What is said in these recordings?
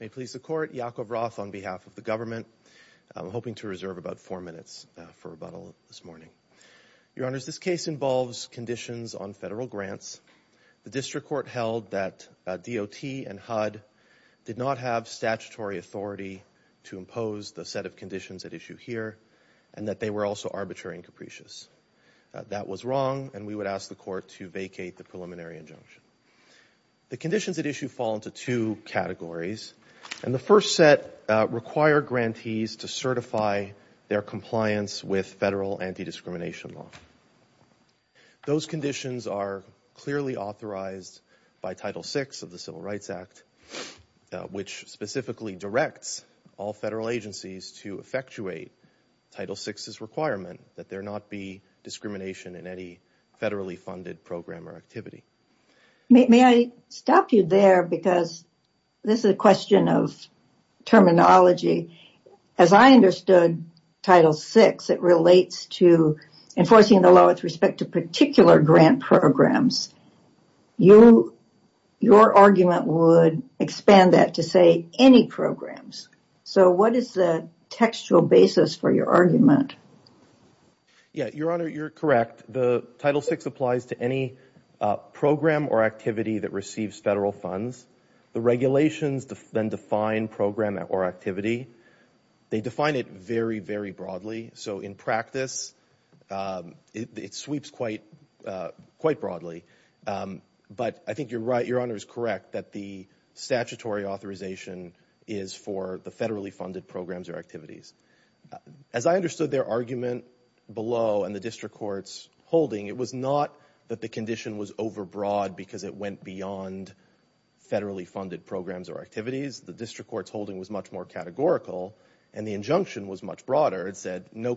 May please the court, Yakov Roth on behalf of the government. I'm hoping to reserve about four minutes for rebuttal this morning. Your honors, this case involves conditions on federal grants. The district court held that DOT and HUD did not have statutory authority to impose the set of conditions at issue here and that they were also arbitrary and capricious. That was wrong and we would ask the court to vacate the preliminary injunction. The conditions at issue fall into two categories and the first set require grantees to certify their compliance with federal anti-discrimination law. Those conditions are clearly authorized by Title VI of the Civil Rights Act, which specifically directs all federal agencies to effectuate Title VI's requirement that there not be discrimination in any federally funded program or activity. May I stop you there because this is a question of terminology. As I understood Title VI, it relates to enforcing the law with respect to particular grant programs. Your argument would expand that to say any programs. What is the textual basis for your argument? Your honor, you are correct. Title VI applies to any program or activity that receives federal funds. The regulations then define program or activity. They define it very, very broadly. So in practice, it sweeps quite broadly. But I think your honor is correct that the statutory authorization is for the federally funded programs or activities. As I understood their argument below and the district court's holding, it was not that the condition was overbroad because it went beyond federally funded programs or activities. The district court's holding was much more categorical and the injunction was much broader. It said you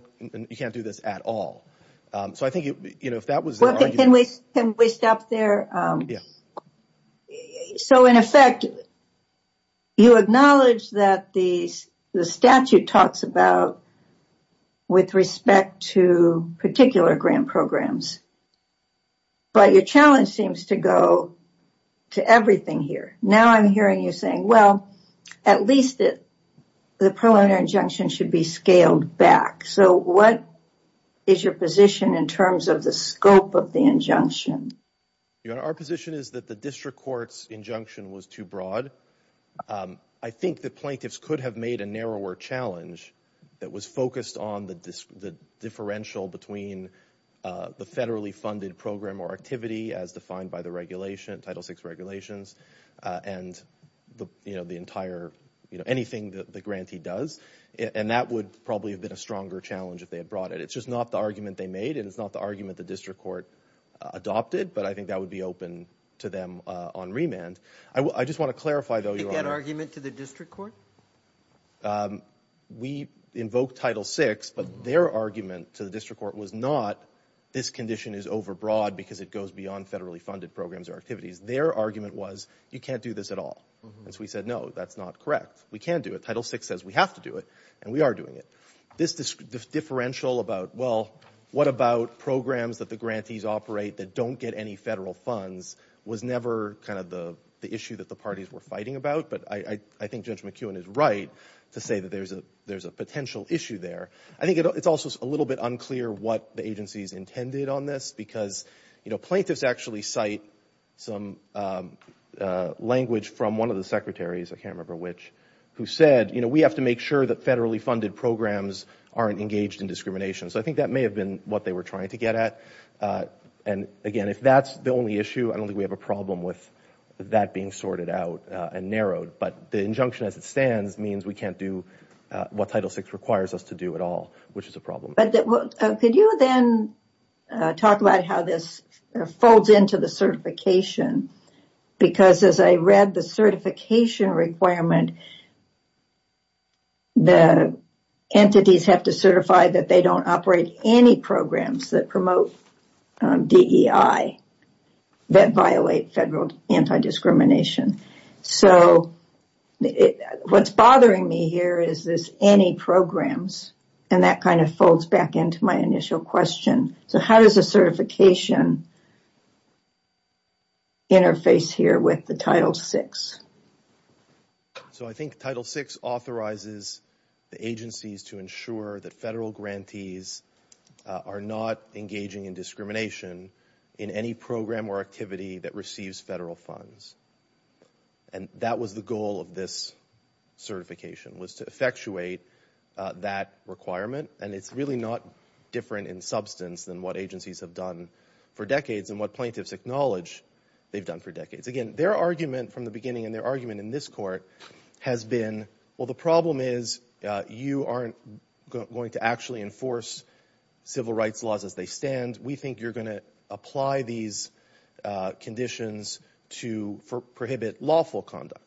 can't do this at all. Can we stop there? So in effect, you acknowledge that the statute talks about with respect to particular grant programs. But your challenge seems to go to everything here. Now I'm hearing you saying, well, at least the pro bono injunction should be scaled back. So what is your position in terms of the scope of the injunction? Our position is that the district court's injunction was too broad. I think the plaintiffs could have made a narrower challenge that was focused on the differential between the federally funded program or activity as defined by the regulation, Title VI regulations, and the entire, anything that the grantee does. And that would probably have been a stronger challenge if they had brought it. It's just not the argument they made and it's not the argument the district court adopted. But I think that would be open to them on remand. I just want to clarify, though, Your Honor. You think that argument to the district court? We invoked Title VI, but their argument to the district court was not this condition is overbroad because it goes beyond federally funded programs or activities. Their argument was you can't do this at all. And so we said, no, that's not correct. We can't do it. Title VI says we have to do it and we are doing it. This differential about, well, what about programs that the grantees operate that don't get any federal funds was never kind of the issue that the parties were fighting about. But I think Judge McKeown is right to say that there's a potential issue there. I think it's also a little bit unclear what the agencies intended on this because, you know, plaintiffs actually cite some language from one of the secretaries, I can't remember which, who said, you know, we have to make sure that federally funded programs aren't engaged in discrimination. So I think that may have been what they were trying to get at. And again, if that's the only issue, I don't think we have a problem with that being sorted out and narrowed. But the injunction as it stands means we can't do what Title VI requires us to do at all, which is a problem. But could you then talk about how this folds into the certification? Because as I read the certification requirement, the entities have to certify that they don't operate any programs that promote DEI, that violate federal anti-discrimination. So what's bothering me here is this any programs, and that kind of folds back into my initial question. So how does the certification interface here with the Title VI? So I think Title VI authorizes the agencies to ensure that federal grantees are not engaging in discrimination in any program or activity that receives federal funds. And that was the goal of this certification, was to effectuate that requirement. And it's really not different in substance than what agencies have done for decades and what plaintiffs acknowledge they've done for decades. Again, their argument from the beginning and their argument in this court has been, well, the problem is you aren't going to actually enforce civil rights laws as they stand. We think you're going to apply these conditions to prohibit lawful conduct.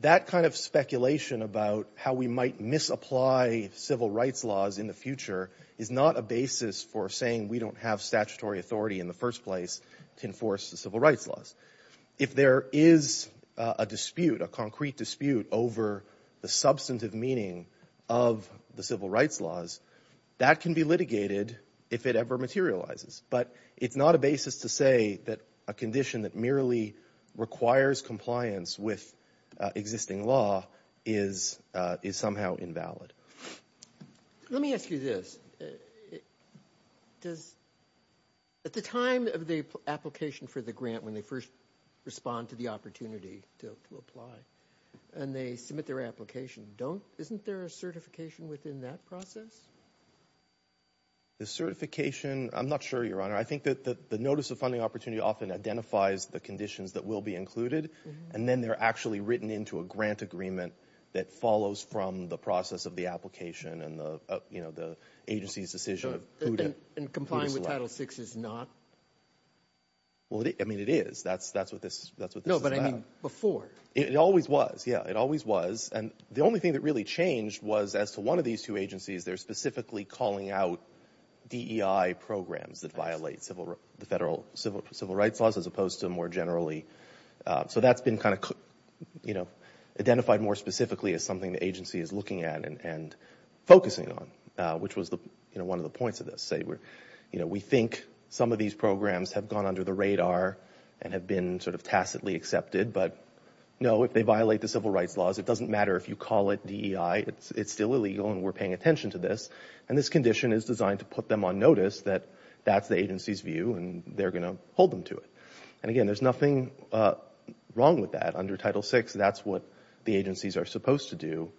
That kind of speculation about how we might misapply civil rights laws in the future is not a basis for saying we don't have statutory authority in the first place to enforce the civil rights laws. If there is a dispute, a concrete dispute over the substantive meaning of the civil rights laws, that can be litigated if it ever materializes. But it's not a basis to say that a condition that merely requires compliance with existing law is somehow invalid. Let me ask you this. Does, at the time of the application for the grant, when they first respond to the opportunity to apply and they submit their application, don't, isn't there a certification within that process? The certification, I'm not sure, Your Honor. I think that the notice of funding opportunity often identifies the conditions that will be included, and then they're actually written into a grant agreement that follows from the process of the application and the agency's decision of who to select. And complying with Title VI is not? Well, I mean, it is. That's what this is about. No, but I mean, before. It always was. Yeah, it always was. And the only thing that really changed was as to one of these two agencies, they're specifically calling out DEI programs that violate the federal civil rights laws as opposed to more generally. So that's been kind of, you know, identified more specifically as something the agency is looking at and focusing on, which was the, you know, one of the points of this. Say, you know, we think some of these programs have gone under the radar and have been sort of tacitly accepted, but no, if they violate the civil rights laws, it doesn't matter if you call it DEI. It's still illegal and we're paying attention to this. And this condition is designed to put them on notice that that's the agency's view and they're going to hold them to it. And again, there's nothing wrong with that under Title VI. That's what the agencies are supposed to do.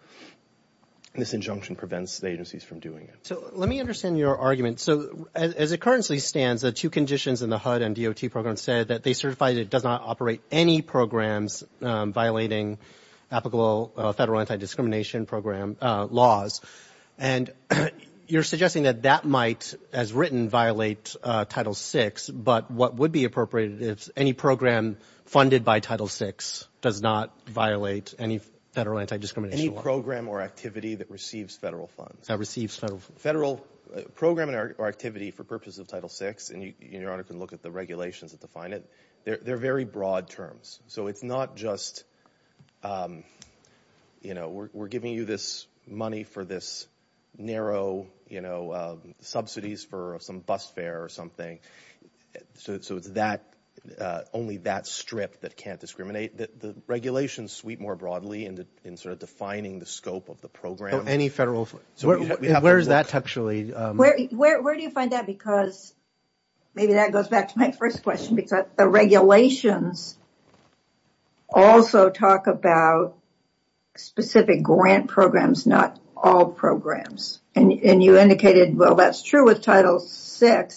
This injunction prevents the agencies from doing it. So let me understand your argument. So as it currently stands, the two conditions in the HUD and DOT programs said that they certify that it does not operate any programs violating applicable federal anti-discrimination program laws. And you're suggesting that that might, as written, violate Title VI, but what would be appropriated if any program funded by Title VI does not violate any federal anti-discrimination law? Any program or activity that receives federal funds. That receives federal funds. Federal program or activity for purposes of Title VI, and your Honor can look at the regulations that define it, they're very broad terms. So it's not just, you know, we're giving you this money for this narrow, you know, subsidies for some bus fare or something. So it's that, only that strip that can't discriminate. The regulations sweep more broadly in sort of defining the scope of the program. Any federal funds. Where is that textually? Where do you find that? Because maybe that goes back to my first question, because the regulations also talk about specific grant programs, not all programs. And you indicated, well, that's true with Title VI,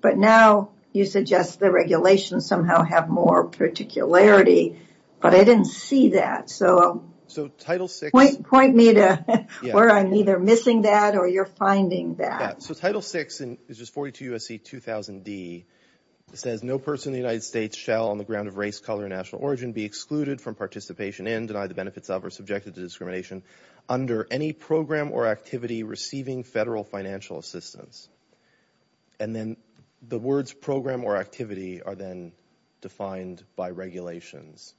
but now you suggest the regulations somehow have more particularity, but I didn't see that. So point me to where I'm either missing that or you're finding that. So Title VI, which is 42 U.S.C. 2000D, says no person in the United States shall on the ground of race, color, or national origin be excluded from participation in, denied the benefits of, or subjected to discrimination under any program or activity receiving federal financial assistance. And then the words program or activity are then defined by regulations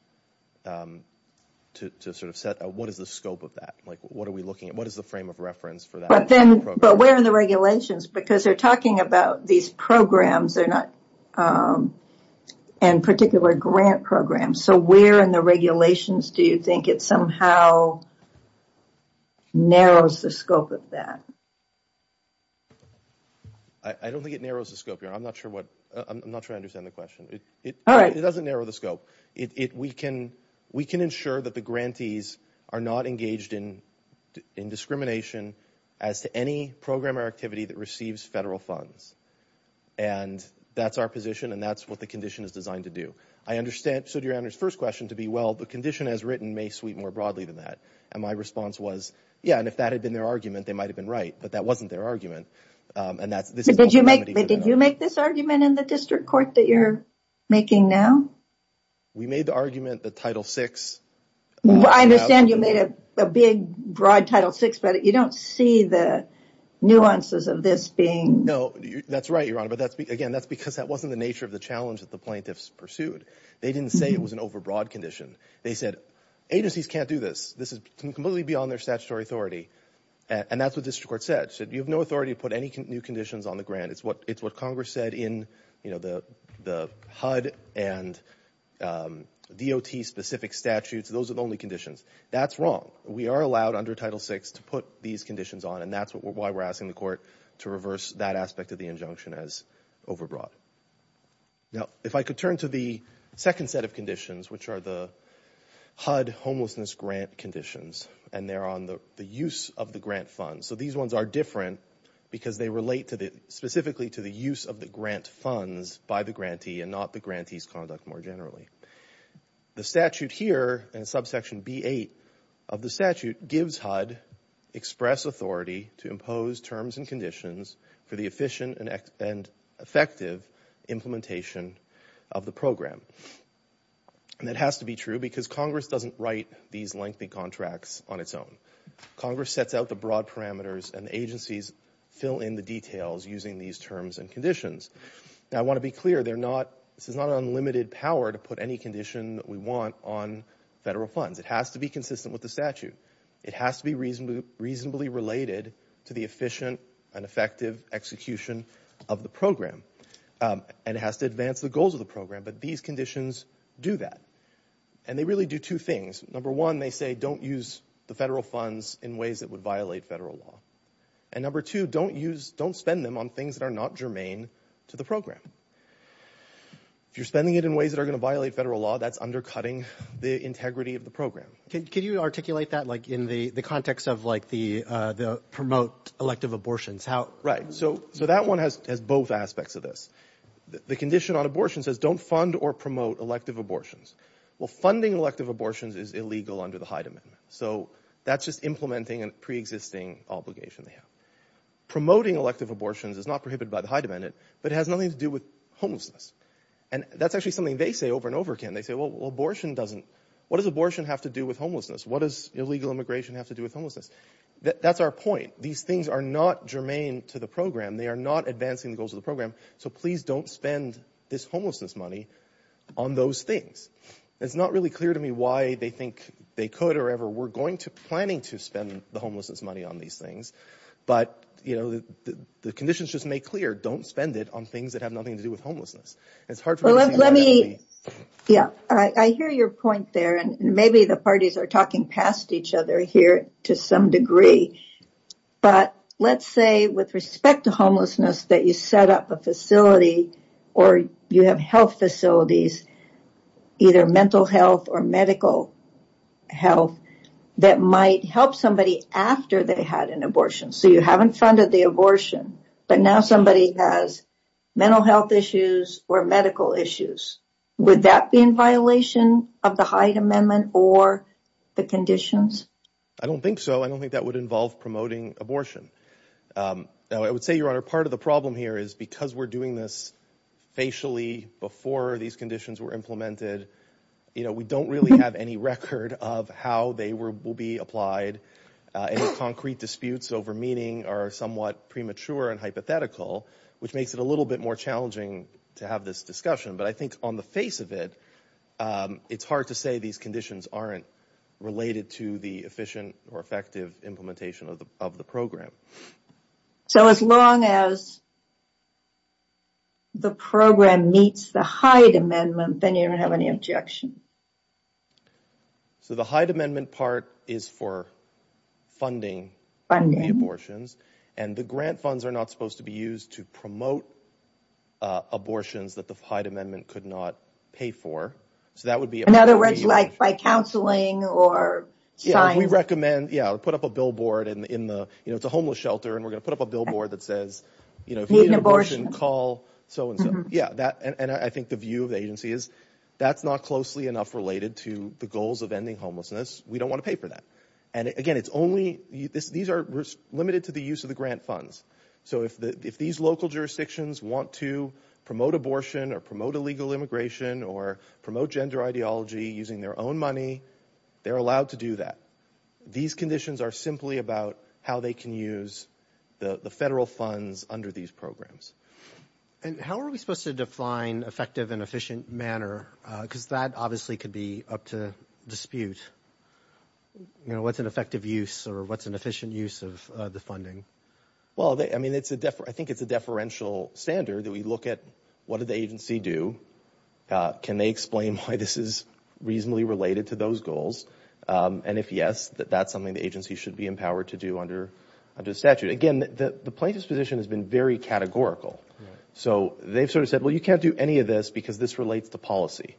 to sort of set what is the scope of that? Like what are we looking at? What is the frame of reference for that? But then, but where are the regulations? Because they're talking about these programs, they're not in particular grant programs. So where in the regulations do you think it somehow narrows the scope of that? I don't think it narrows the scope. I'm not sure what, I'm not sure I understand the question. It doesn't narrow the scope. We can ensure that the grantees are not engaged in discrimination as to any program or activity that receives federal funds. And that's our position and that's what the condition is designed to do. I understand, so to your first question, to be well, the condition as written may sweep more broadly than that. And my response was yeah, and if that had been their argument, they might have been right. But that wasn't their argument. And that's, this is Did you make, did you make this argument in the district court that you're making now? We made the argument that Title VI I understand you made a big, broad Title VI, but you don't see the nuances of this being No, that's right, Your Honor. But that's, again, that's because that wasn't the nature of the challenge that the plaintiffs pursued. They didn't say it was an overbroad condition. They said, agencies can't do this. This is completely beyond their statutory authority. And that's what district court said, said you have no authority to put any new conditions on the grant. It's what, it's what Congress said in, you know, the, the HUD and D.O.T. specific statutes. Those are the only conditions. That's wrong. We are allowed under Title VI to put these conditions on and that's why we're asking the court to reverse that aspect of the injunction as overbroad. Now if I could turn to the second set of conditions, which are the HUD homelessness grant conditions and they're on the use of the grant funds. So these ones are different because they relate to the, specifically to the use of the grant funds by the grantee and not the grantee's conduct more generally. The statute here in subsection B-8 of the statute gives HUD express authority to impose terms and conditions for the efficient and effective implementation of the program. And that has to be true because Congress doesn't write these lengthy contracts on its own. Congress sets out the broad parameters and the agencies fill in the details using these terms and conditions. Now I want to be clear, they're not, this is not an unlimited power to put any condition that we want on federal funds. It has to be consistent with the statute. It has to be reasonably related to the efficient and effective execution of the program. And it has to advance the goals of the program. But these conditions do that. And they really do two things. Number one, they say don't use the federal funds in ways that would violate federal law. And number two, don't use, don't spend them on things that are not germane to the program. If you're spending it in ways that are going to violate federal law, that's undercutting the integrity of the program. Can you articulate that like in the context of like the promote elective abortions? Right. So that one has both aspects of this. The condition on abortion says don't fund or promote elective abortions. Well, funding elective abortions is illegal under the Hyde Amendment. So that's just implementing a pre-existing obligation they have. Promoting elective abortions is not prohibited by the Hyde Amendment, but it has nothing to do with homelessness. And that's actually something they say over and over again. They say, well, abortion doesn't, what does abortion have to do with homelessness? What does illegal immigration have to do with homelessness? That's our point. These things are not germane to the program. They are not advancing the goals of the program. So please don't spend this homelessness money on those things. It's not really clear to me why they think they could or ever were going to planning to spend the homelessness money on these things. But, you know, the conditions just make clear, don't spend it on things that have nothing to do with homelessness. It's hard for me. Yeah, I hear your point there. And maybe the parties are talking past each other here to some degree. But let's say with respect to homelessness, that you set up a facility or you have health facilities, either mental health or medical health that might help somebody after they had an abortion. So you haven't funded the abortion, but now somebody has mental health issues or medical issues. Would that be in violation of the State Amendment or the conditions? I don't think so. I don't think that would involve promoting abortion. I would say, Your Honor, part of the problem here is because we're doing this facially before these conditions were implemented, you know, we don't really have any record of how they will be applied. And the concrete disputes over meaning are somewhat premature and hypothetical, which makes it a little bit more challenging to have this discussion. But I think on the face of it, it's hard to say these conditions aren't related to the efficient or effective implementation of the program. So as long as the program meets the Hyde Amendment, then you don't have any objection. So the Hyde Amendment part is for funding the abortions and the grant funds are not supposed to be that the Hyde Amendment could not pay for. So that would be another way to like by counseling or we recommend, yeah, put up a billboard and in the, you know, it's a homeless shelter and we're going to put up a billboard that says, you know, abortion call. So, yeah, that and I think the view of the agency is that's not closely enough related to the goals of ending homelessness. We don't want to pay for that. And again, it's only this. These are limited to the use of the grant funds. So if these local jurisdictions want to promote abortion or promote illegal immigration or promote gender ideology using their own money, they're allowed to do that. These conditions are simply about how they can use the federal funds under these programs. And how are we supposed to define effective and efficient manner? Because that obviously could be up to dispute. You know, what's an effective use or what's an efficient use of the funding? Well, I mean, it's a, I think it's a deferential standard that we look at what did the agency do? Can they explain why this is reasonably related to those goals? And if yes, that that's something the agency should be empowered to do under the statute. Again, the plaintiff's position has been very categorical. So they've sort of said, well, you can't do any of this because this relates to policy.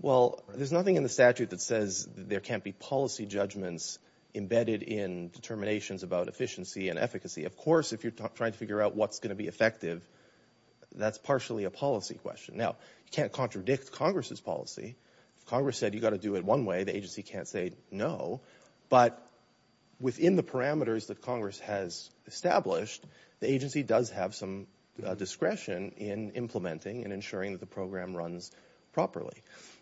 Well, there's nothing in the statute that says there can't be policy judgments embedded in determinations about efficiency and efficacy. Of course, if you're trying to figure out what's going to be effective, that's partially a policy question. Now, you can't contradict Congress's policy. Congress said you got to do it one way. The agency can't say no. But within the parameters that Congress has established, the agency does have some discretion in implementing and ensuring that the program runs properly.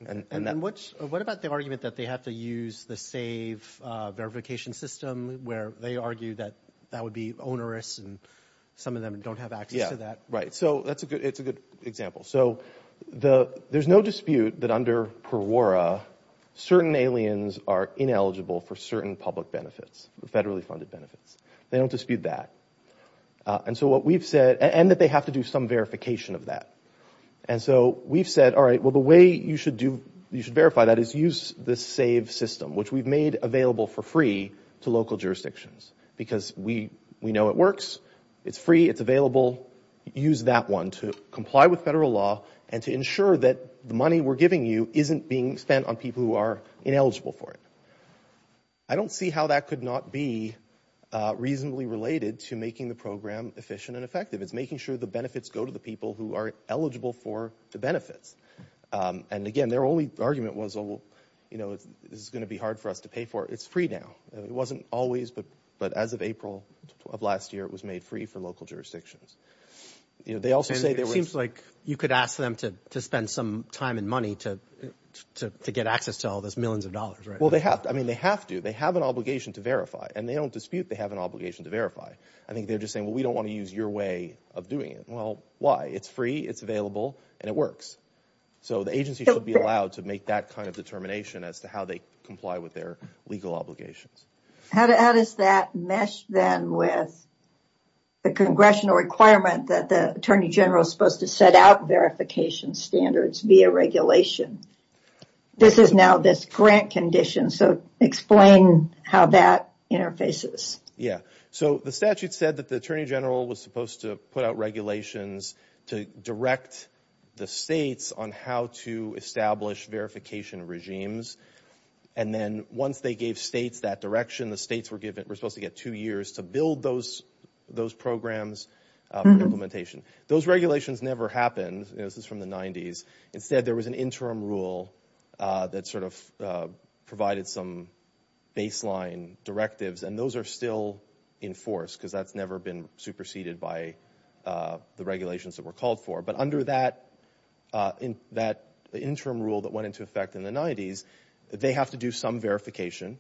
And then what about the argument that they have to use the SAVE verification system where they argue that that would be onerous and some of them don't have access to that? Right. So that's a good it's a good example. So the there's no dispute that under PERWORA, certain aliens are ineligible for certain public benefits, federally funded benefits. They don't dispute that. And so what we've said and that they have to do some verification of that. And so we've said, all right, well, the way you should do you should verify that is use the SAVE system, which we've made available for free to local jurisdictions because we we know it works. It's free. It's available. Use that one to comply with federal law and to ensure that the money we're giving you isn't being spent on people who are ineligible for it. I don't see how that could not be reasonably related to making the program efficient and effective. It's making sure the benefits go to the people who are eligible for the benefits. And again, their only argument was, oh, you know, this is going to be hard for us to pay for. It's free now. It wasn't always. But but as of April of last year, it was made free for local jurisdictions. You know, they also say there seems like you could ask them to spend some time and money to to get access to all those millions of dollars. Well, they have I mean, they have to they have an obligation to verify and they don't dispute they have an obligation to verify. I think they're just saying, well, we don't want to use your way of doing it. Well, why? It's free. It's available and it works. So the agency should be allowed to make that kind of determination as to how they comply with their legal obligations. How does that mesh then with the congressional requirement that the attorney general is supposed to set out verification standards via regulation? This is now this grant condition. So explain how that interfaces. Yeah. So the statute said that the attorney general was supposed to put out regulations to direct the states on how to establish verification regimes. And then once they gave states that direction, the states were given were supposed to get two years to build those those programs implementation. Those regulations never happened. This is from the 90s. Instead, there was an interim rule that sort of provided some baseline directives. And those are still in force because that's never been superseded by the regulations that were called for. But under that in that interim rule that went into effect in the 90s, they have to do some verification.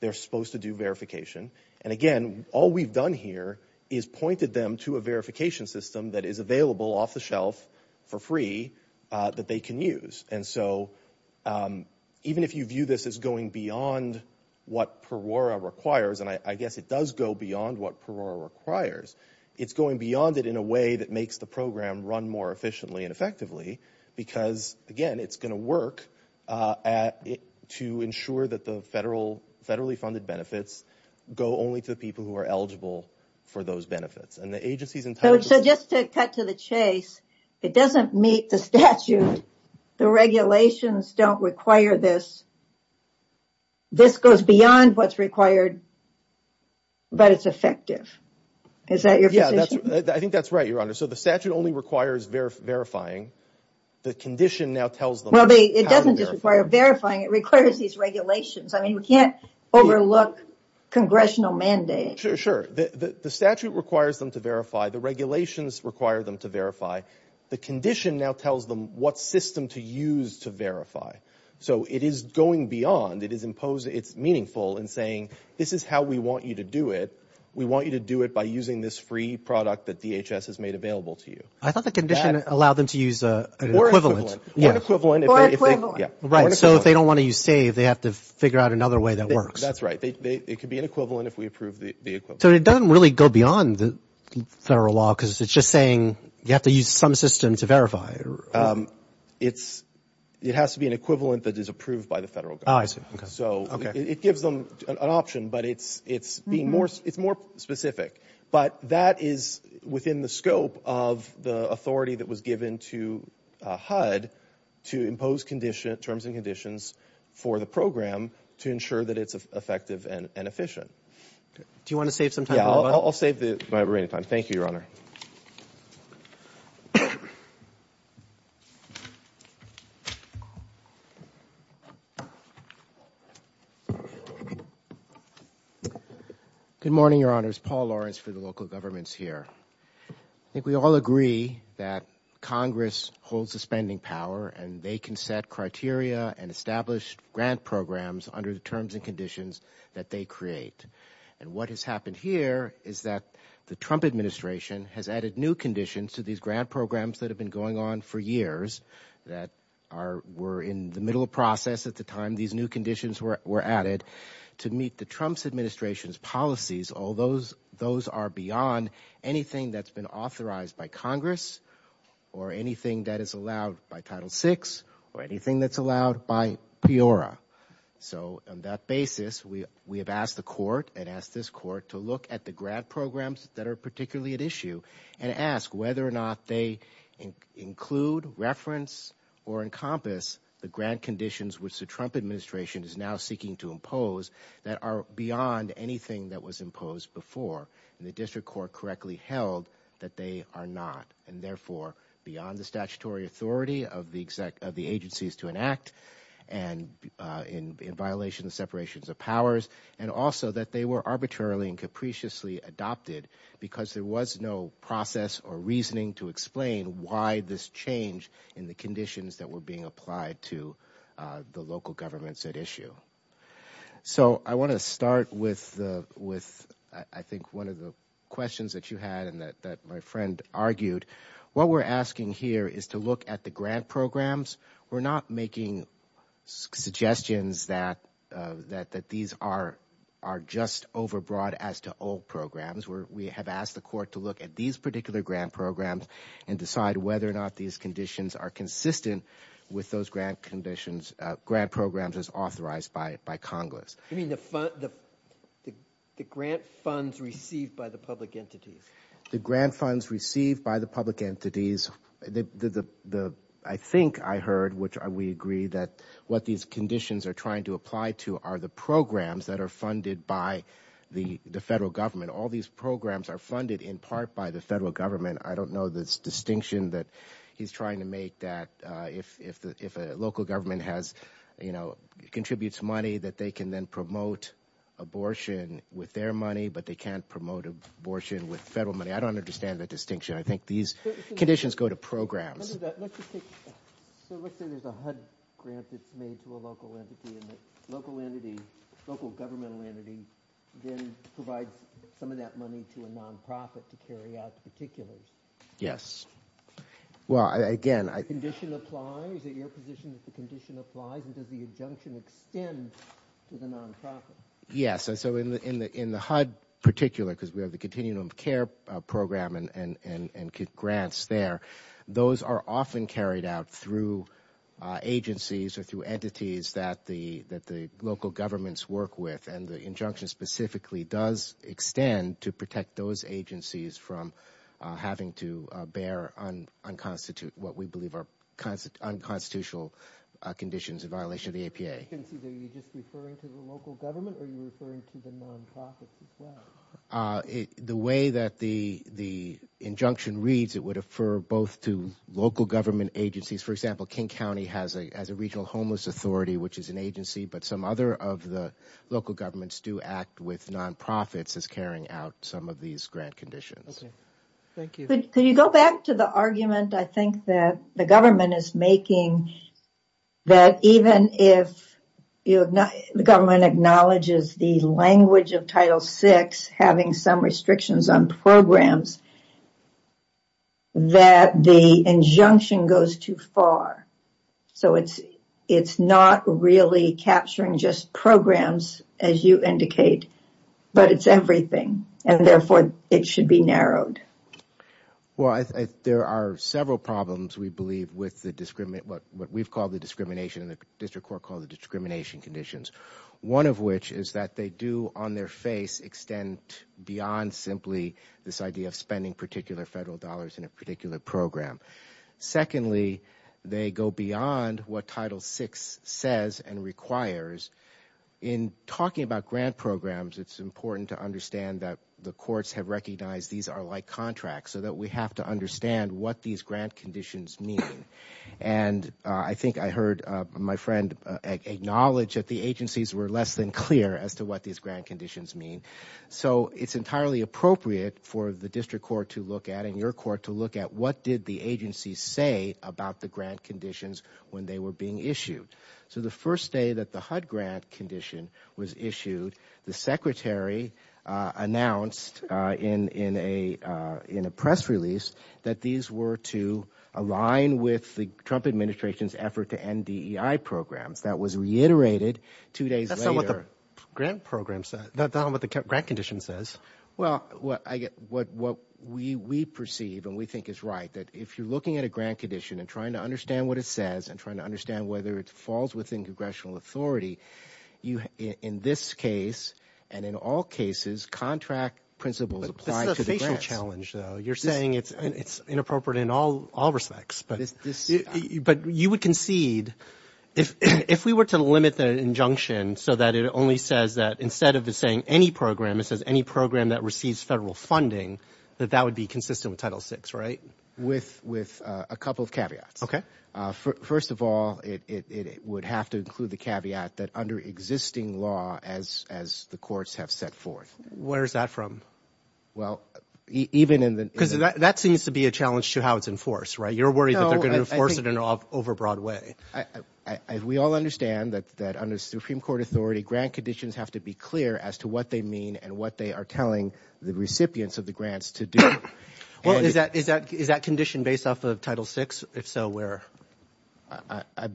They're supposed to do verification. And again, all we've done here is pointed them to a verification system that is available off the shelf for free that they can use. And so even if you view this as going beyond what Perora requires, and I guess it does go beyond what Perora requires, it's going beyond it in a way that makes the program run more efficiently and effectively, because again, it's going to work to ensure that the federal federally funded benefits go only to the people who are eligible for those benefits. And the agency's entitled to... So just to cut to the chase, it doesn't meet the statute. The regulations don't require this. This goes beyond what's required, but it's effective. Is that your position? Yeah, I think that's right, Your Honor. So the statute only requires verifying. The condition now tells them... Well, it doesn't just require verifying, it requires these regulations. I mean, you can't overlook congressional mandate. Sure, sure. The statute requires them to verify. The regulations require them to verify. The condition now tells them what system to use to verify. So it is going beyond, it is imposed, it's meaningful in saying, this is how we want you to do it. We want you to do it by using this free product that DHS has made available to you. I thought the condition allowed them to use an equivalent. Or equivalent. Or equivalent. Right. So if they don't want to use SAVE, they have to figure out another way that works. That's right. It could be an equivalent if we approve the equivalent. So it doesn't really go beyond the federal law because it's just saying you have to use some system to verify. It has to be an equivalent that is approved by the federal government. Oh, I see. Okay. So it gives them an option, but it's being more specific. But that is within the scope of the authority that was given to HUD to impose terms and conditions for the program to ensure that it's effective and efficient. Do you want to save some time? Yeah, I'll save the remaining time. Thank you, Your Honor. Good morning, Your Honors. Paul Lawrence for the local governments here. I think we all agree that Congress holds the spending power and they can set criteria and establish grant programs under the terms and conditions that they create. And what has happened here is that the Trump administration has added new conditions to these grant programs that have been going on for years. That were in the middle of process at the time these new conditions were added. To meet the Trump's administration's policies, all those are beyond anything that's been authorized by Congress or anything that is allowed by Title VI or anything that's allowed by PEORA. So on that basis, we have asked the court and asked this court to look at the grant programs that are particularly at issue and ask whether or not they include, reference, or encompass the grant conditions which the Trump administration is now seeking to impose that are beyond anything that was imposed before. The district court correctly held that they are not and therefore beyond the statutory authority of the agencies to enact and in violation of separations of powers and also that they were arbitrarily and capriciously adopted because there was no process or reasoning to explain why this change in the conditions that were being applied to the local governments at issue. So I want to start with I think one of the questions that you had and that my friend argued. What we're asking here is to look at the grant programs. We're not making suggestions that these are just over broad as to old programs. We have asked the court to look at these particular grant programs and decide whether or not these conditions are consistent with those grant conditions, grant programs as authorized by Congress. You mean the grant funds received by the public entities? The grant funds received by the public entities, I think I heard, which we agree that what these conditions are trying to apply to are the programs that are funded by the federal government. All these programs are funded in part by the federal government. I don't know this distinction that he's trying to make that if a local government has, you know, contributes money that they can then promote abortion with their money but they can't promote abortion with federal money. I don't understand the distinction. I think these conditions go to programs. Let's just take, so let's say there's a HUD grant that's made to a local entity and the local entity, local governmental entity, then provides some of that money to a non-profit to carry out the particulars. Well, again, I... The condition applies? Is it your position that the condition applies and does the injunction extend to the non-profit? Yes. So in the HUD particular, because we have the continuum of care program and grants there, those are often carried out through agencies or through entities that the local governments work with and the injunction specifically does extend to protect those agencies from having to bear unconstitutional, what we believe are unconstitutional conditions in violation of the APA. Are you just referring to the local government or are you referring to the non-profits as The way that the injunction reads, it would refer both to local government agencies. For example, King County has a regional homeless authority, which is an agency, but some other of the local governments do act with non-profits as carrying out some of these grant conditions. Okay. Thank you. Could you go back to the argument I think that the government is making that even if the government acknowledges the language of Title VI having some restrictions on programs, that the injunction goes too far. So, it is not really capturing just programs as you indicate, but it is everything and therefore it should be narrowed. Well, there are several problems we believe with what we have called the discrimination conditions. One of which is that they do on their face extend beyond simply this idea of spending particular federal dollars in a particular program. Secondly, they go beyond what Title VI says and requires. In talking about grant programs, it is important to understand that the courts have recognized these are like contracts so that we have to understand what these grant conditions mean. And I think I heard my friend acknowledge that the agencies were less than clear as to what these grant conditions mean. So, it is entirely appropriate for the district court to look at and your court to look at what did the agency say about the grant conditions when they were being issued. So, the first day that the HUD grant condition was issued, the secretary announced in a press release that these were to align with the Trump administration's effort to end DEI programs. That was reiterated two days later. That is not what the grant program says. That is not what the grant condition says. Well, what we perceive and we think is right that if you are looking at a grant condition and trying to understand what it says and trying to understand whether it falls within congressional authority, in this case and in all cases, contract principles apply to the grants. That is a challenge though. You are saying it is inappropriate in all respects. But you would concede if we were to limit the injunction so that it only says that instead of saying any program, it says any program that receives federal funding, that that would be consistent with Title VI, right? With a couple of caveats. Okay. First of all, it would have to include the caveat that under existing law as the courts have set forth. Where is that from? Well, even in the... Because that seems to be a challenge to how it is enforced, right? You are worried that they are going to enforce it in an over broad way. We all understand that under Supreme Court authority, grant conditions have to be clear as to what they mean and what they are telling the recipients of the grants to do. Well, is that condition based off of Title VI? If so, where?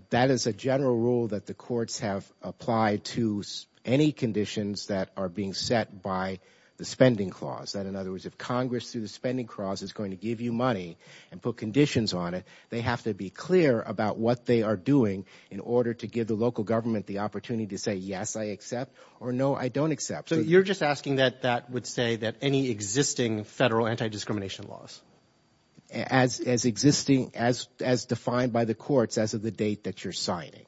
That is a general rule that the courts have applied to any conditions that are being set by the spending clause. In other words, if Congress through the spending clause is going to give you money and put conditions on it, they have to be clear about what they are doing in order to give the local government the opportunity to say, yes, I accept or no, I don't accept. So you are just asking that that would say that any existing federal anti-discrimination laws? As existing, as defined by the courts as of the date that you are signing.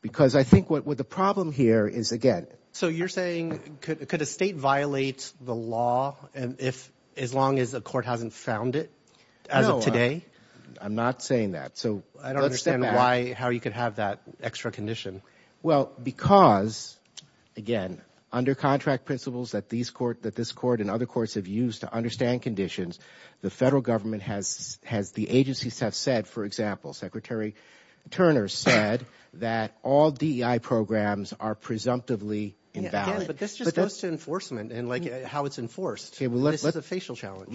Because I think what the problem here is, again... So you are saying, could a state violate the law as long as a court hasn't found it as of today? No, I am not saying that. I don't understand how you could have that extra condition. Well, because, again, under contract principles that this court and other courts have used to understand conditions, the federal government has, the agencies have said, for example, Secretary Turner said that all DEI programs are presumptively invalid. But this just goes to enforcement and how it is enforced. This is a facial challenge.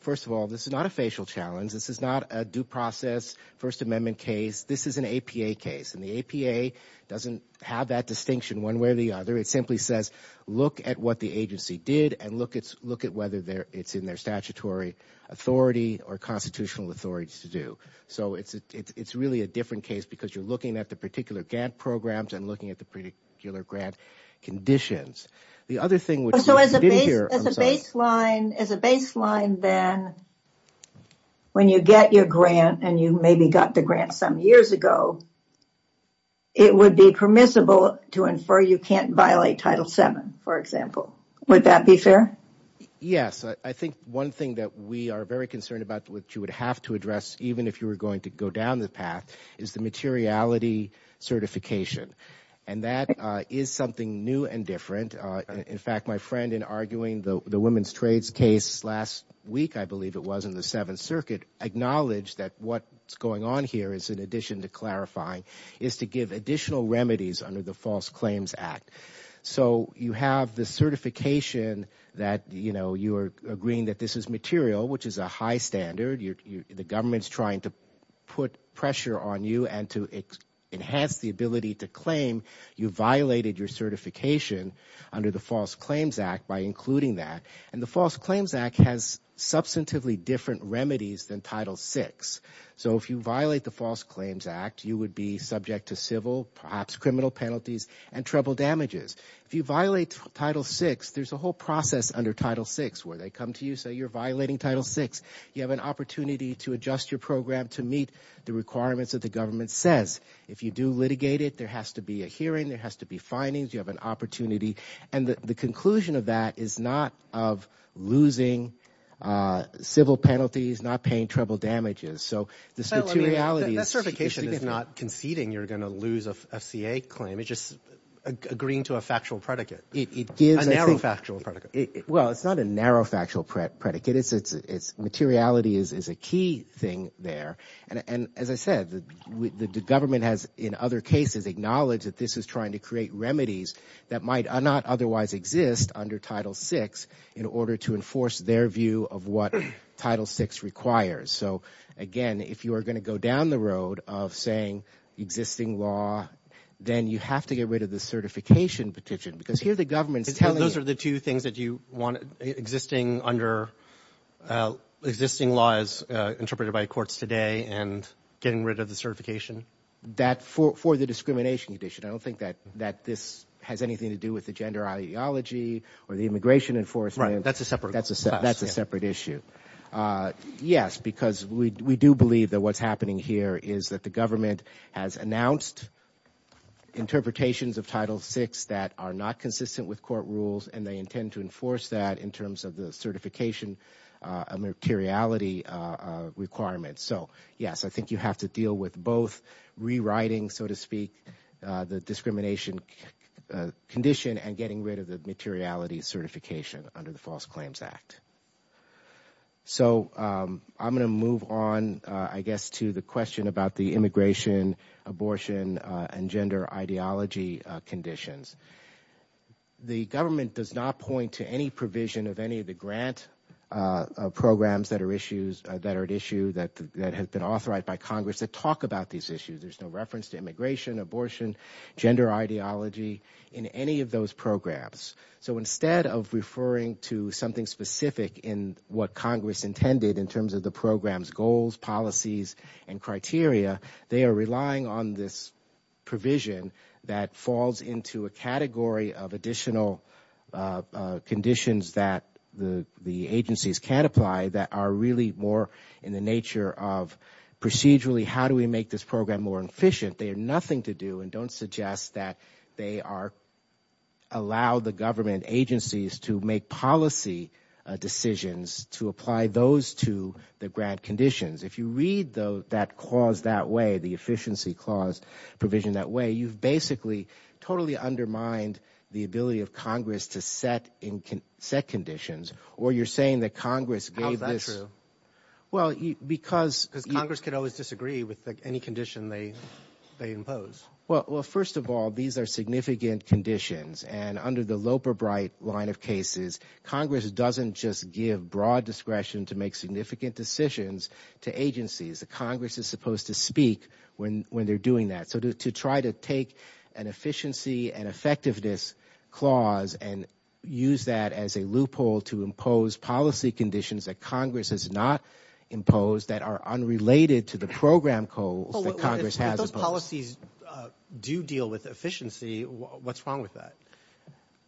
First of all, this is not a facial challenge. This is not a due process First Amendment case. This is an APA case. And the APA doesn't have that distinction one way or the other. It simply says, look at what the agency did and look at whether it is in their statutory authority or constitutional authority to do. So it is really a different case because you are looking at the particular grant programs and looking at the particular grant conditions. The other thing... So as a baseline then, when you get your grant and you maybe got the grant some years ago, it would be permissible to infer you can't violate Title VII, for example. Would that be fair? Yes. I think one thing that we are very concerned about, which you would have to address even if you were going to go down the path, is the materiality certification. And that is something new and different. In fact, my friend, in arguing the women's trades case last week, I believe it was, in the Seventh Circuit, acknowledged that what is going on here is, in addition to clarifying, is to give additional remedies under the False Claims Act. So you have the certification that you are agreeing that this is material, which is a high standard. The government is trying to put pressure on you and to enhance the ability to claim. You violated your certification under the False Claims Act by including that. And the False Claims Act has substantively different remedies than Title VI. So if you violate the False Claims Act, you would be subject to civil, perhaps criminal penalties and treble damages. If you violate Title VI, there's a whole process under Title VI where they come to you and say, you're violating Title VI. You have an opportunity to adjust your program to meet the requirements that the government says. If you do litigate it, there has to be a hearing. There has to be findings. You have an opportunity. And the conclusion of that is not of losing civil penalties, not paying treble damages. That certification is not conceding you're going to lose a FCA claim. It's just agreeing to a factual predicate, a narrow factual predicate. Well, it's not a narrow factual predicate. Materiality is a key thing there. And as I said, the government has, in other cases, acknowledged that this is trying to create remedies that might not otherwise exist under Title VI in order to enforce their view of what Title VI requires. So, again, if you are going to go down the road of saying existing law, then you have to get rid of the certification petition. Because here the government's telling you... Those are the two things that you want existing under existing laws interpreted by courts today and getting rid of the certification? That for the discrimination condition. I don't think that this has anything to do with the gender ideology or the immigration enforcement. Right. That's a separate class. That's a separate issue. Yes, because we do believe that what's happening here is that the government has announced interpretations of Title VI that are not consistent with court rules and they intend to enforce that in terms of the certification materiality requirements. So, yes, I think you have to deal with both rewriting, so to speak, the discrimination condition and getting rid of the materiality certification under the False Claims Act. So, I'm going to move on, I guess, to the question about the immigration, abortion, and gender ideology conditions. The government does not point to any provision of any of the grant programs that are at issue that have been authorized by Congress to talk about these issues. There's no reference to immigration, abortion, gender ideology in any of those programs. So, instead of referring to something specific in what Congress intended in terms of the program's goals, policies, and criteria, they are relying on this provision that falls into a category of additional conditions that the agencies can't apply that are really more in the nature of procedurally how do we make this program more efficient. They have nothing to do and don't suggest that they allow the government agencies to make policy decisions to apply those to the grant conditions. If you read that clause that way, the efficiency clause provisioned that way, you've basically totally undermined the ability of Congress to set conditions. Or you're saying that Congress gave this... Because Congress can always disagree with any condition they impose. Well, first of all, these are significant conditions. And under the Loper-Bright line of cases, Congress doesn't just give broad discretion to make significant decisions to agencies. Congress is supposed to speak when they're doing that. So, to try to take an efficiency and effectiveness clause and use that as a loophole to impose policy conditions that Congress has not imposed that are unrelated to the program goals that Congress has imposed. If those policies do deal with efficiency, what's wrong with that?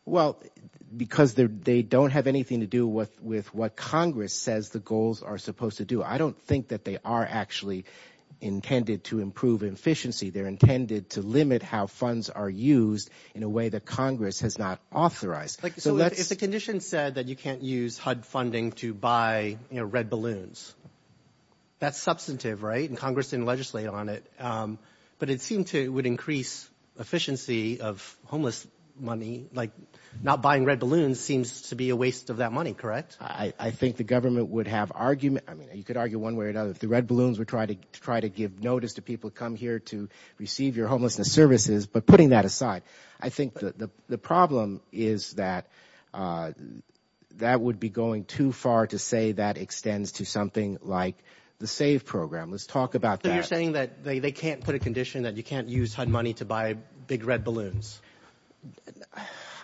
Well, because they don't have anything to do with what Congress says the goals are supposed to do. I don't think that they are actually intended to improve efficiency. They're intended to limit how funds are used in a way that Congress has not authorized. So, if the condition said that you can't use HUD funding to buy red balloons, that's substantive, right? And Congress didn't legislate on it. But it seemed to increase efficiency of homeless money. Like, not buying red balloons seems to be a waste of that money, correct? I think the government would have arguments. I mean, you could argue one way or another. The red balloons would try to give notice to people who come here to receive your homelessness services. But putting that aside, I think the problem is that that would be going too far to say that extends to something like the SAVE program. Let's talk about that. So, you're saying that they can't put a condition that you can't use HUD money to buy big red balloons?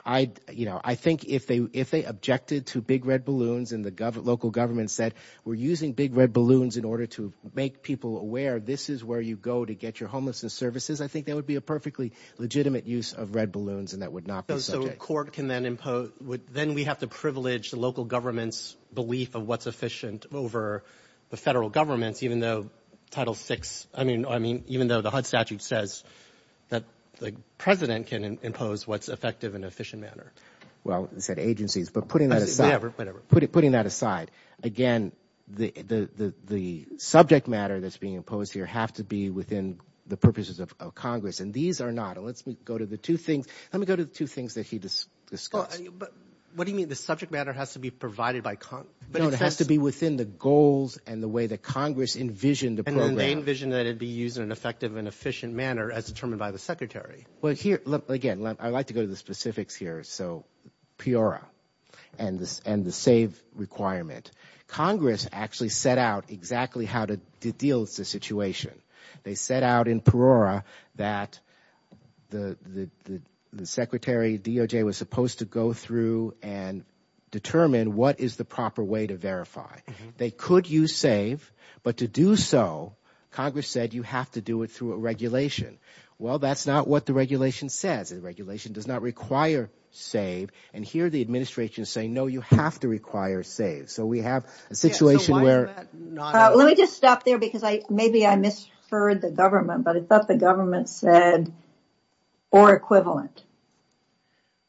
I think if they objected to big red balloons and the local government said, we're using big red balloons in order to make people aware this is where you go to get your homelessness services, I think that would be a perfectly legitimate use of red balloons and that would not be subject. So, a court can then impose – then we have to privilege the local government's belief of what's efficient over the federal government's, even though Title VI – I mean, even though the HUD statute says that the president can impose what's effective and efficient manner. Well, it said agencies. But putting that aside. Whatever, whatever. And these are not. Let's go to the two things. Let me go to the two things that he discussed. But what do you mean? The subject matter has to be provided by – No, it has to be within the goals and the way that Congress envisioned the program. And then they envisioned that it would be used in an effective and efficient manner as determined by the secretary. Well, here – again, I'd like to go to the specifics here. So, PEORA and the SAVE requirement. Congress actually set out exactly how to deal with the situation. They set out in PEORA that the secretary, DOJ, was supposed to go through and determine what is the proper way to verify. They could use SAVE, but to do so, Congress said you have to do it through a regulation. Well, that's not what the regulation says. The regulation does not require SAVE. And here the administration is saying, no, you have to require SAVE. So, we have a situation where – Let me just stop there because maybe I misheard the government, but I thought the government said or equivalent.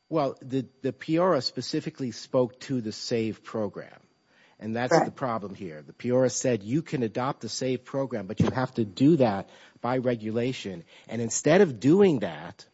Well, the PEORA specifically spoke to the SAVE program. And that's the problem here. The PEORA said you can adopt the SAVE program, but you have to do that by regulation. And instead of doing that,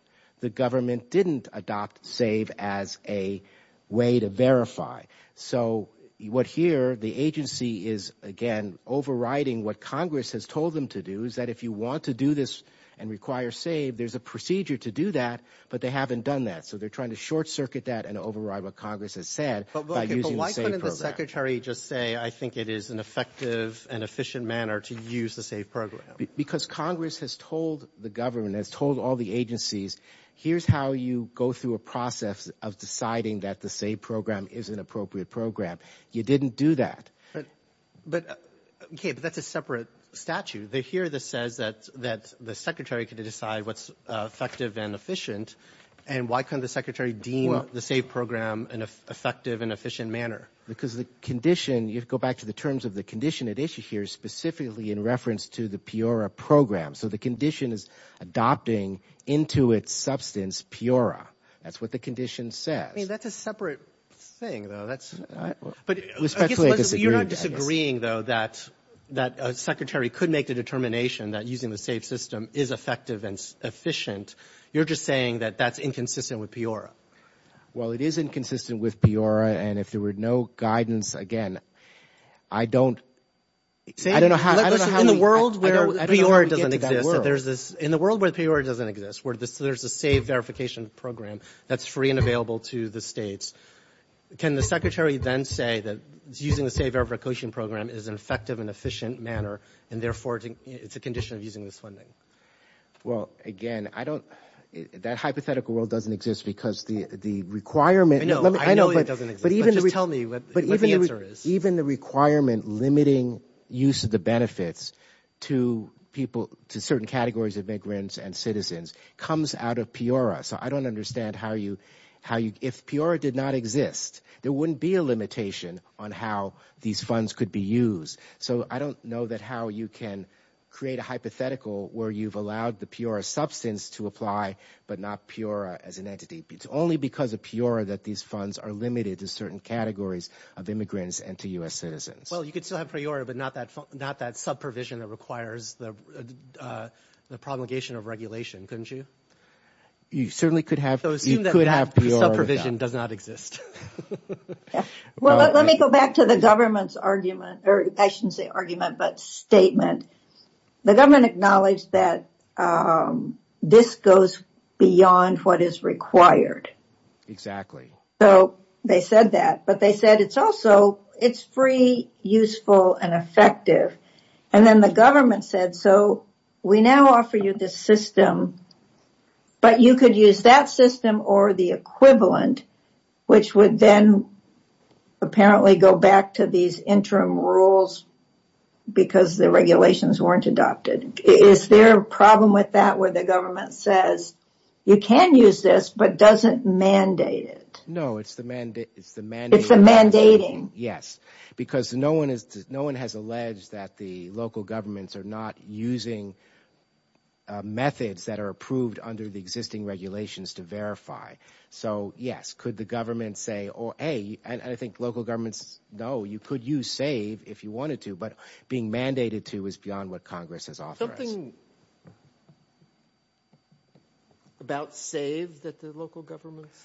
the government didn't adopt SAVE as a way to verify. So, what here, the agency is, again, overriding what Congress has told them to do, is that if you want to do this and require SAVE, there's a procedure to do that, but they haven't done that. So, they're trying to short-circuit that and override what Congress has said by using the SAVE program. But why couldn't the secretary just say I think it is an effective and efficient manner to use the SAVE program? Because Congress has told the government, has told all the agencies, here's how you go through a process of deciding that the SAVE program is an appropriate program. You didn't do that. Okay, but that's a separate statute. Here it says that the secretary can decide what's effective and efficient, and why couldn't the secretary deem the SAVE program an effective and efficient manner? Because the condition – you have to go back to the terms of the condition at issue here, specifically in reference to the PEORA program. So, the condition is adopting into its substance PEORA. That's what the condition says. I mean, that's a separate thing, though. You're not disagreeing, though, that a secretary could make the determination that using the SAVE system is effective and efficient. You're just saying that that's inconsistent with PEORA. Well, it is inconsistent with PEORA, and if there were no guidance, again, I don't – In the world where PEORA doesn't exist, in the world where PEORA doesn't exist, where there's a SAVE verification program that's free and available to the states, can the secretary then say that using the SAVE verification program is an effective and efficient manner, and therefore it's a condition of using this funding? Well, again, I don't – that hypothetical world doesn't exist because the requirement – I know it doesn't exist, but just tell me what the answer is. Even the requirement limiting use of the benefits to certain categories of immigrants and citizens comes out of PEORA. So, I don't understand how you – if PEORA did not exist, there wouldn't be a limitation on how these funds could be used. So, I don't know that how you can create a hypothetical where you've allowed the PEORA substance to apply but not PEORA as an entity. It's only because of PEORA that these funds are limited to certain categories of immigrants and to U.S. citizens. Well, you could still have PEORA, but not that sub-provision that requires the promulgation of regulation, couldn't you? You certainly could have – you could have PEORA without. The sub-provision does not exist. Well, let me go back to the government's argument – or I shouldn't say argument, but statement. The government acknowledged that this goes beyond what is required. So, they said that, but they said it's also – it's free, useful, and effective. And then the government said, so, we now offer you this system, but you could use that system or the equivalent, which would then apparently go back to these interim rules because the regulations weren't adopted. Is there a problem with that where the government says, you can use this, but doesn't mandate it? No, it's the mandate – It's the mandating. Yes, because no one has alleged that the local governments are not using methods that are approved under the existing regulations to verify. So, yes, could the government say, or A, and I think local governments, no, you could use SAVE if you wanted to, but being mandated to is beyond what Congress has authorized. Something about SAVE that the local governments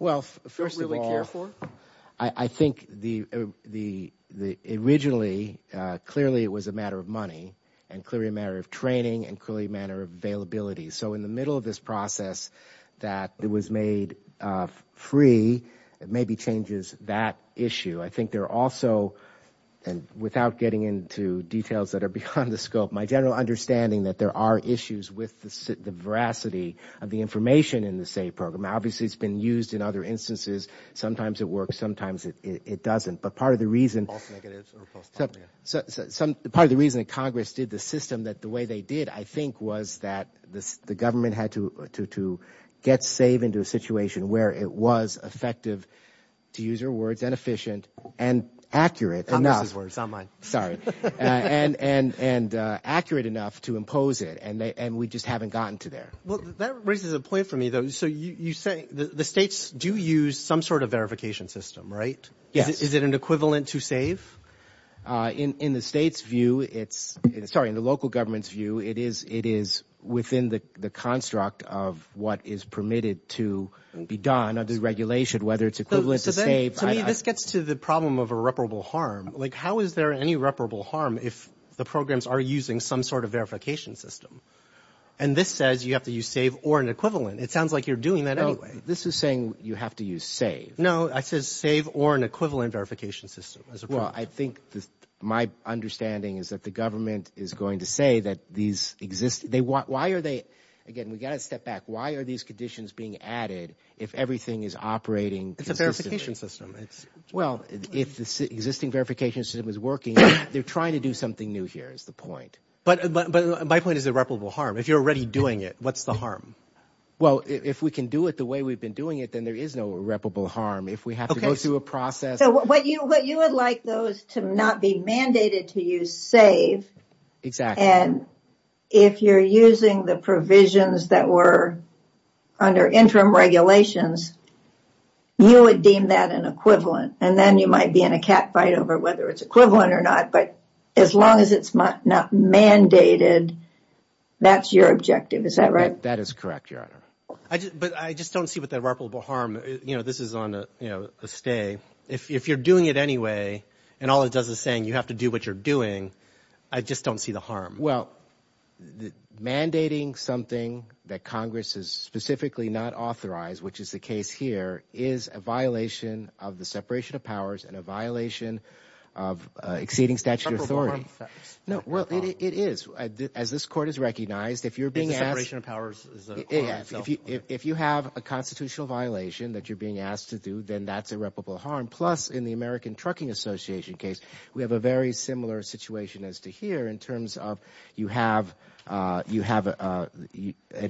don't really care for? Well, first of all, I think the – originally, clearly it was a matter of money and clearly a matter of training and clearly a matter of availability. So in the middle of this process that was made free, it maybe changes that issue. I think there are also – and without getting into details that are beyond the scope, my general understanding that there are issues with the veracity of the information in the SAVE program. Obviously, it's been used in other instances. Sometimes it works. Sometimes it doesn't. But part of the reason – part of the reason that Congress did the system the way they did, I think, was that the government had to get SAVE into a situation where it was effective, to use your words, inefficient and accurate enough. Not Mrs. Words. Not mine. Sorry. And accurate enough to impose it, and we just haven't gotten to there. Well, that raises a point for me, though. So you say the states do use some sort of verification system, right? Yes. Is it an equivalent to SAVE? In the state's view, it's – sorry, in the local government's view, it is within the construct of what is permitted to be done under the regulation, whether it's equivalent to SAVE. To me, this gets to the problem of irreparable harm. Like, how is there any irreparable harm if the programs are using some sort of verification system? And this says you have to use SAVE or an equivalent. It sounds like you're doing that anyway. No, this is saying you have to use SAVE. No, I said SAVE or an equivalent verification system. Well, I think my understanding is that the government is going to say that these – why are they – again, we've got to step back. Why are these conditions being added if everything is operating consistently? It's a verification system. Well, if the existing verification system is working, they're trying to do something new here is the point. But my point is irreparable harm. If you're already doing it, what's the harm? Well, if we can do it the way we've been doing it, then there is no irreparable harm. If we have to go through a process – So what you would like, though, is to not be mandated to use SAVE. Exactly. And if you're using the provisions that were under interim regulations, you would deem that an equivalent. And then you might be in a catfight over whether it's equivalent or not. But as long as it's not mandated, that's your objective. Is that right? That is correct, Your Honor. But I just don't see what the irreparable harm – you know, this is on a stay. If you're doing it anyway and all it does is saying you have to do what you're doing, I just don't see the harm. Well, mandating something that Congress has specifically not authorized, which is the case here, is a violation of the separation of powers and a violation of exceeding statute of authority. Irreparable harm. No, well, it is. As this court has recognized, if you're being asked – It's the separation of powers. If you have a constitutional violation that you're being asked to do, then that's irreparable harm. Plus, in the American Trucking Association case, we have a very similar situation as to here in terms of you have an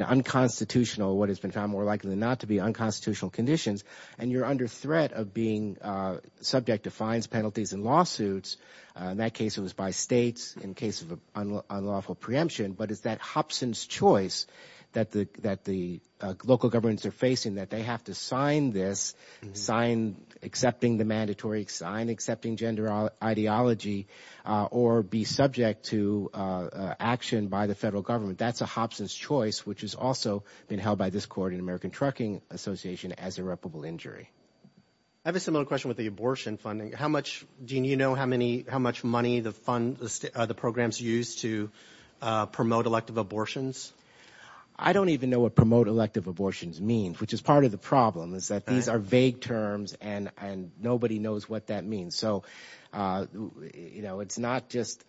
unconstitutional – what has been found more likely than not to be unconstitutional conditions, and you're under threat of being subject to fines, penalties, and lawsuits. In that case, it was by states. In the case of unlawful preemption, but it's that Hobson's choice that the local governments are facing, that they have to sign this, sign accepting the mandatory, sign accepting gender ideology, or be subject to action by the federal government. That's a Hobson's choice, which has also been held by this court in the American Trucking Association as irreparable injury. I have a similar question with the abortion funding. How much – do you know how much money the programs use to promote elective abortions? I don't even know what promote elective abortions means, which is part of the problem, is that these are vague terms, and nobody knows what that means. So it's not just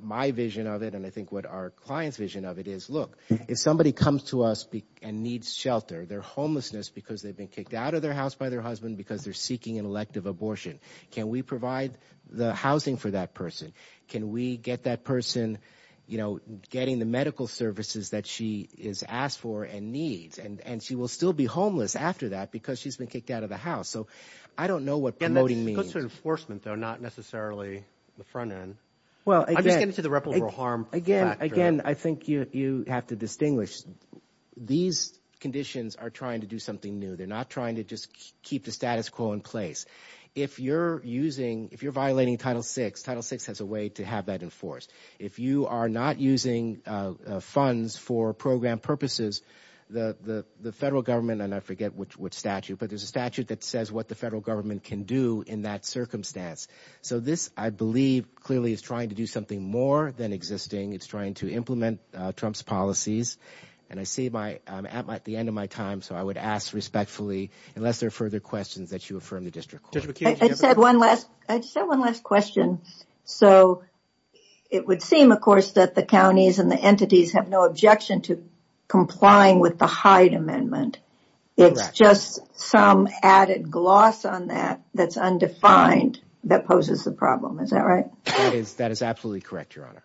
my vision of it, and I think what our client's vision of it is, look, if somebody comes to us and needs shelter, their homelessness because they've been kicked out of their house by their husband because they're seeking an elective abortion, can we provide the housing for that person? Can we get that person, you know, getting the medical services that she has asked for and needs? And she will still be homeless after that because she's been kicked out of the house. So I don't know what promoting means. And that's closer to enforcement, though, not necessarily the front end. I'm just getting to the reputable harm factor. Again, I think you have to distinguish. These conditions are trying to do something new. They're not trying to just keep the status quo in place. If you're using, if you're violating Title VI, Title VI has a way to have that enforced. If you are not using funds for program purposes, the federal government, and I forget which statute, but there's a statute that says what the federal government can do in that circumstance. So this, I believe, clearly is trying to do something more than existing. It's trying to implement Trump's policies. And I see I'm at the end of my time, so I would ask respectfully, unless there are further questions, that you affirm the district court. I just have one last question. So it would seem, of course, that the counties and the entities have no objection to complying with the Hyde Amendment. It's just some added gloss on that that's undefined that poses a problem. Is that right? That is absolutely correct, Your Honor.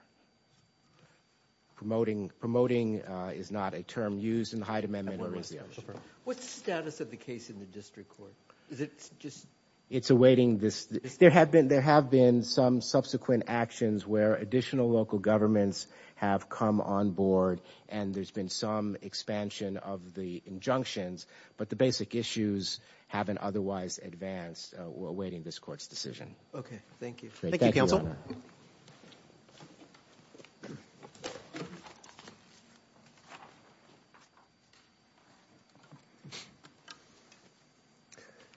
Promoting is not a term used in the Hyde Amendment. I have one last question. What's the status of the case in the district court? It's awaiting this. There have been some subsequent actions where additional local governments have come on board, and there's been some expansion of the injunctions, but the basic issues haven't otherwise advanced awaiting this court's decision. Okay, thank you. Thank you, Counsel.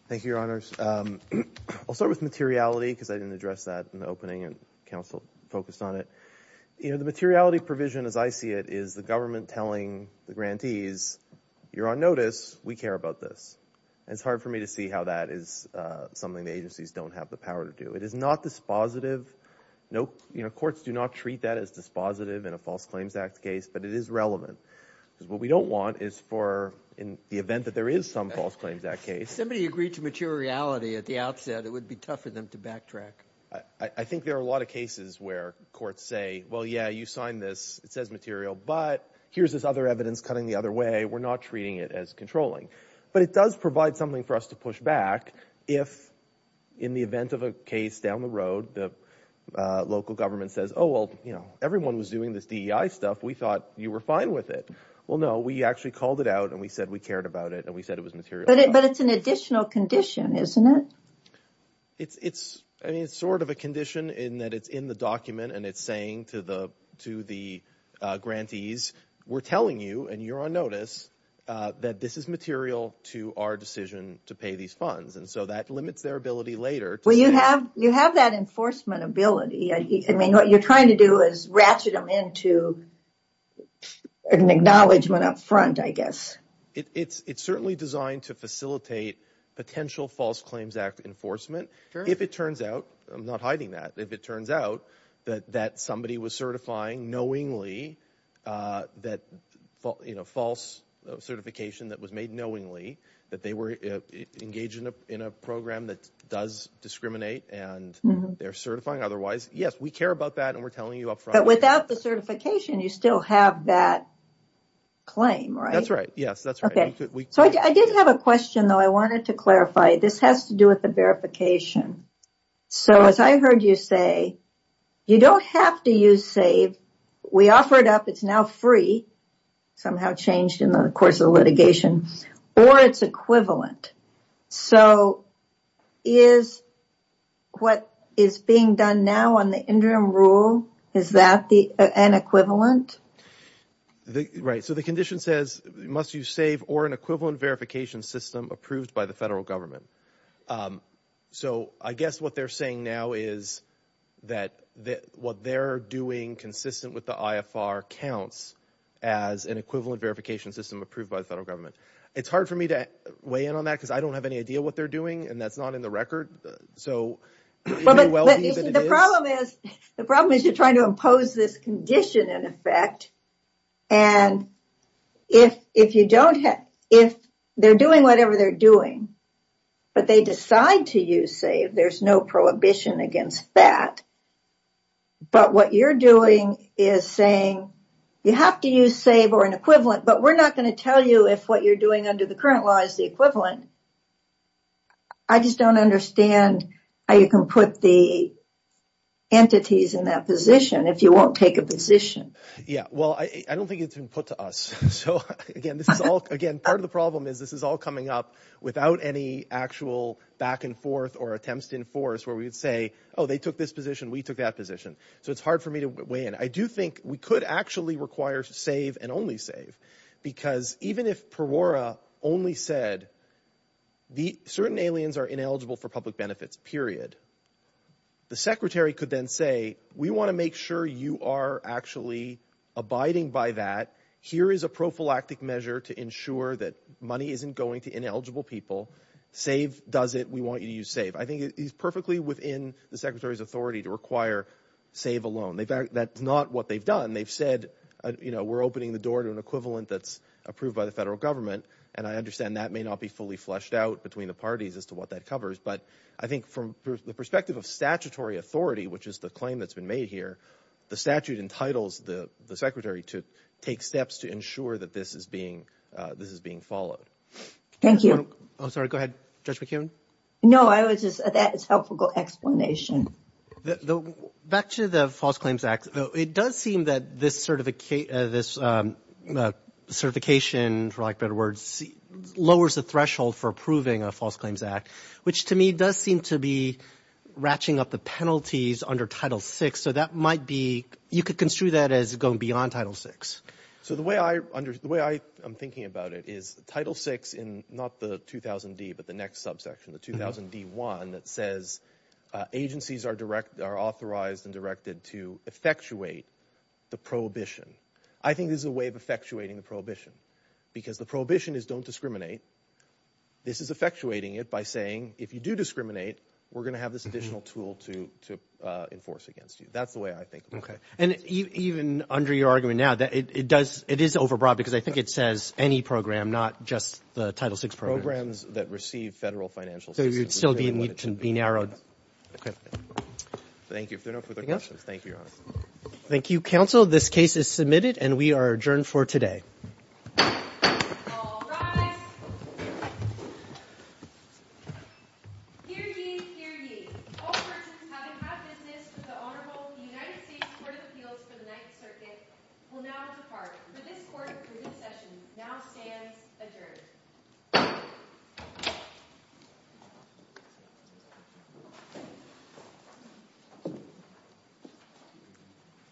Thank you, Your Honors. I'll start with materiality because I didn't address that in the opening and counsel focused on it. You know, the materiality provision as I see it is the government telling the grantees, you're on notice, we care about this. And it's hard for me to see how that is something the agencies don't have the power to do. It is not dispositive. Courts do not treat that as dispositive in a False Claims Act case, but it is relevant. What we don't want is for in the event that there is some False Claims Act case. If somebody agreed to materiality at the outset, it would be tough for them to backtrack. I think there are a lot of cases where courts say, well, yeah, you signed this. It says material, but here's this other evidence cutting the other way. We're not treating it as controlling. But it does provide something for us to push back if in the event of a case down the road, the local government says, oh, well, you know, everyone was doing this DEI stuff. We thought you were fine with it. Well, no, we actually called it out and we said we cared about it and we said it was material. But it's an additional condition, isn't it? It's sort of a condition in that it's in the document and it's saying to the grantees, we're telling you and you're on notice that this is material to our decision to pay these funds. And so that limits their ability later. Well, you have that enforcement ability. I mean, what you're trying to do is ratchet them into an acknowledgement up front, I guess. It's certainly designed to facilitate potential False Claims Act enforcement. If it turns out, I'm not hiding that. If it turns out that somebody was certifying knowingly that false certification that was made knowingly, that they were engaged in a program that does discriminate and they're certifying otherwise. Yes, we care about that and we're telling you up front. But without the certification, you still have that claim, right? That's right. Yes, that's right. So I did have a question, though. I wanted to clarify. This has to do with the verification. So as I heard you say, you don't have to use SAVE. We offer it up. It's now free. Somehow changed in the course of the litigation. Or it's equivalent. So is what is being done now on the interim rule, is that an equivalent? Right. So the condition says, must use SAVE or an equivalent verification system approved by the federal government. So I guess what they're saying now is that what they're doing consistent with the IFR counts as an equivalent verification system approved by the federal government. It's hard for me to weigh in on that because I don't have any idea what they're doing and that's not in the record. So the problem is, the problem is you're trying to impose this condition in effect. And if if you don't have if they're doing whatever they're doing, but they decide to use SAVE, there's no prohibition against that. But what you're doing is saying, you have to use SAVE or an equivalent, but we're not going to tell you if what you're doing under the current law is the equivalent. I just don't understand how you can put the entities in that position if you won't take a position. Yeah, well, I don't think it's been put to us. So again, this is all again, part of the problem is this is all coming up without any actual back and forth or attempts to enforce where we would say, oh, they took this position. We took that position. So it's hard for me to weigh in. I do think we could actually require SAVE and only SAVE because even if Perora only said the certain aliens are ineligible for public benefits, period. The secretary could then say, we want to make sure you are actually abiding by that. Here is a prophylactic measure to ensure that money isn't going to ineligible people. SAVE does it. We want you to use SAVE. I think it is perfectly within the secretary's authority to require SAVE alone. That's not what they've done. They've said, you know, we're opening the door to an equivalent that's approved by the federal government. And I understand that may not be fully fleshed out between the parties as to what that covers. But I think from the perspective of statutory authority, which is the claim that's been made here, the statute entitles the secretary to take steps to ensure that this is being followed. Thank you. I'm sorry, go ahead, Judge McKeown. No, that is a helpful explanation. Back to the False Claims Act, it does seem that this certification, for lack of better words, lowers the threshold for approving a False Claims Act, which to me does seem to be ratcheting up the penalties under Title VI. So that might be, you could construe that as going beyond Title VI. So the way I'm thinking about it is Title VI in not the 2000D but the next subsection, the 2000D-1, that says agencies are authorized and directed to effectuate the prohibition. I think this is a way of effectuating the prohibition because the prohibition is don't discriminate. This is effectuating it by saying if you do discriminate, we're going to have this additional tool to enforce against you. That's the way I think of it. And even under your argument now, it is overbroad because I think it says any program, not just the Title VI programs. Programs that receive federal financial assistance. So you'd still need to be narrowed. Thank you. If there are no further questions, thank you, Your Honor. Thank you, counsel. This case is submitted and we are adjourned for today. All rise. Hear ye, hear ye. All persons having had business with the Honorable United States Court of Appeals for the Ninth Circuit will now depart for this court approved session now stands adjourned.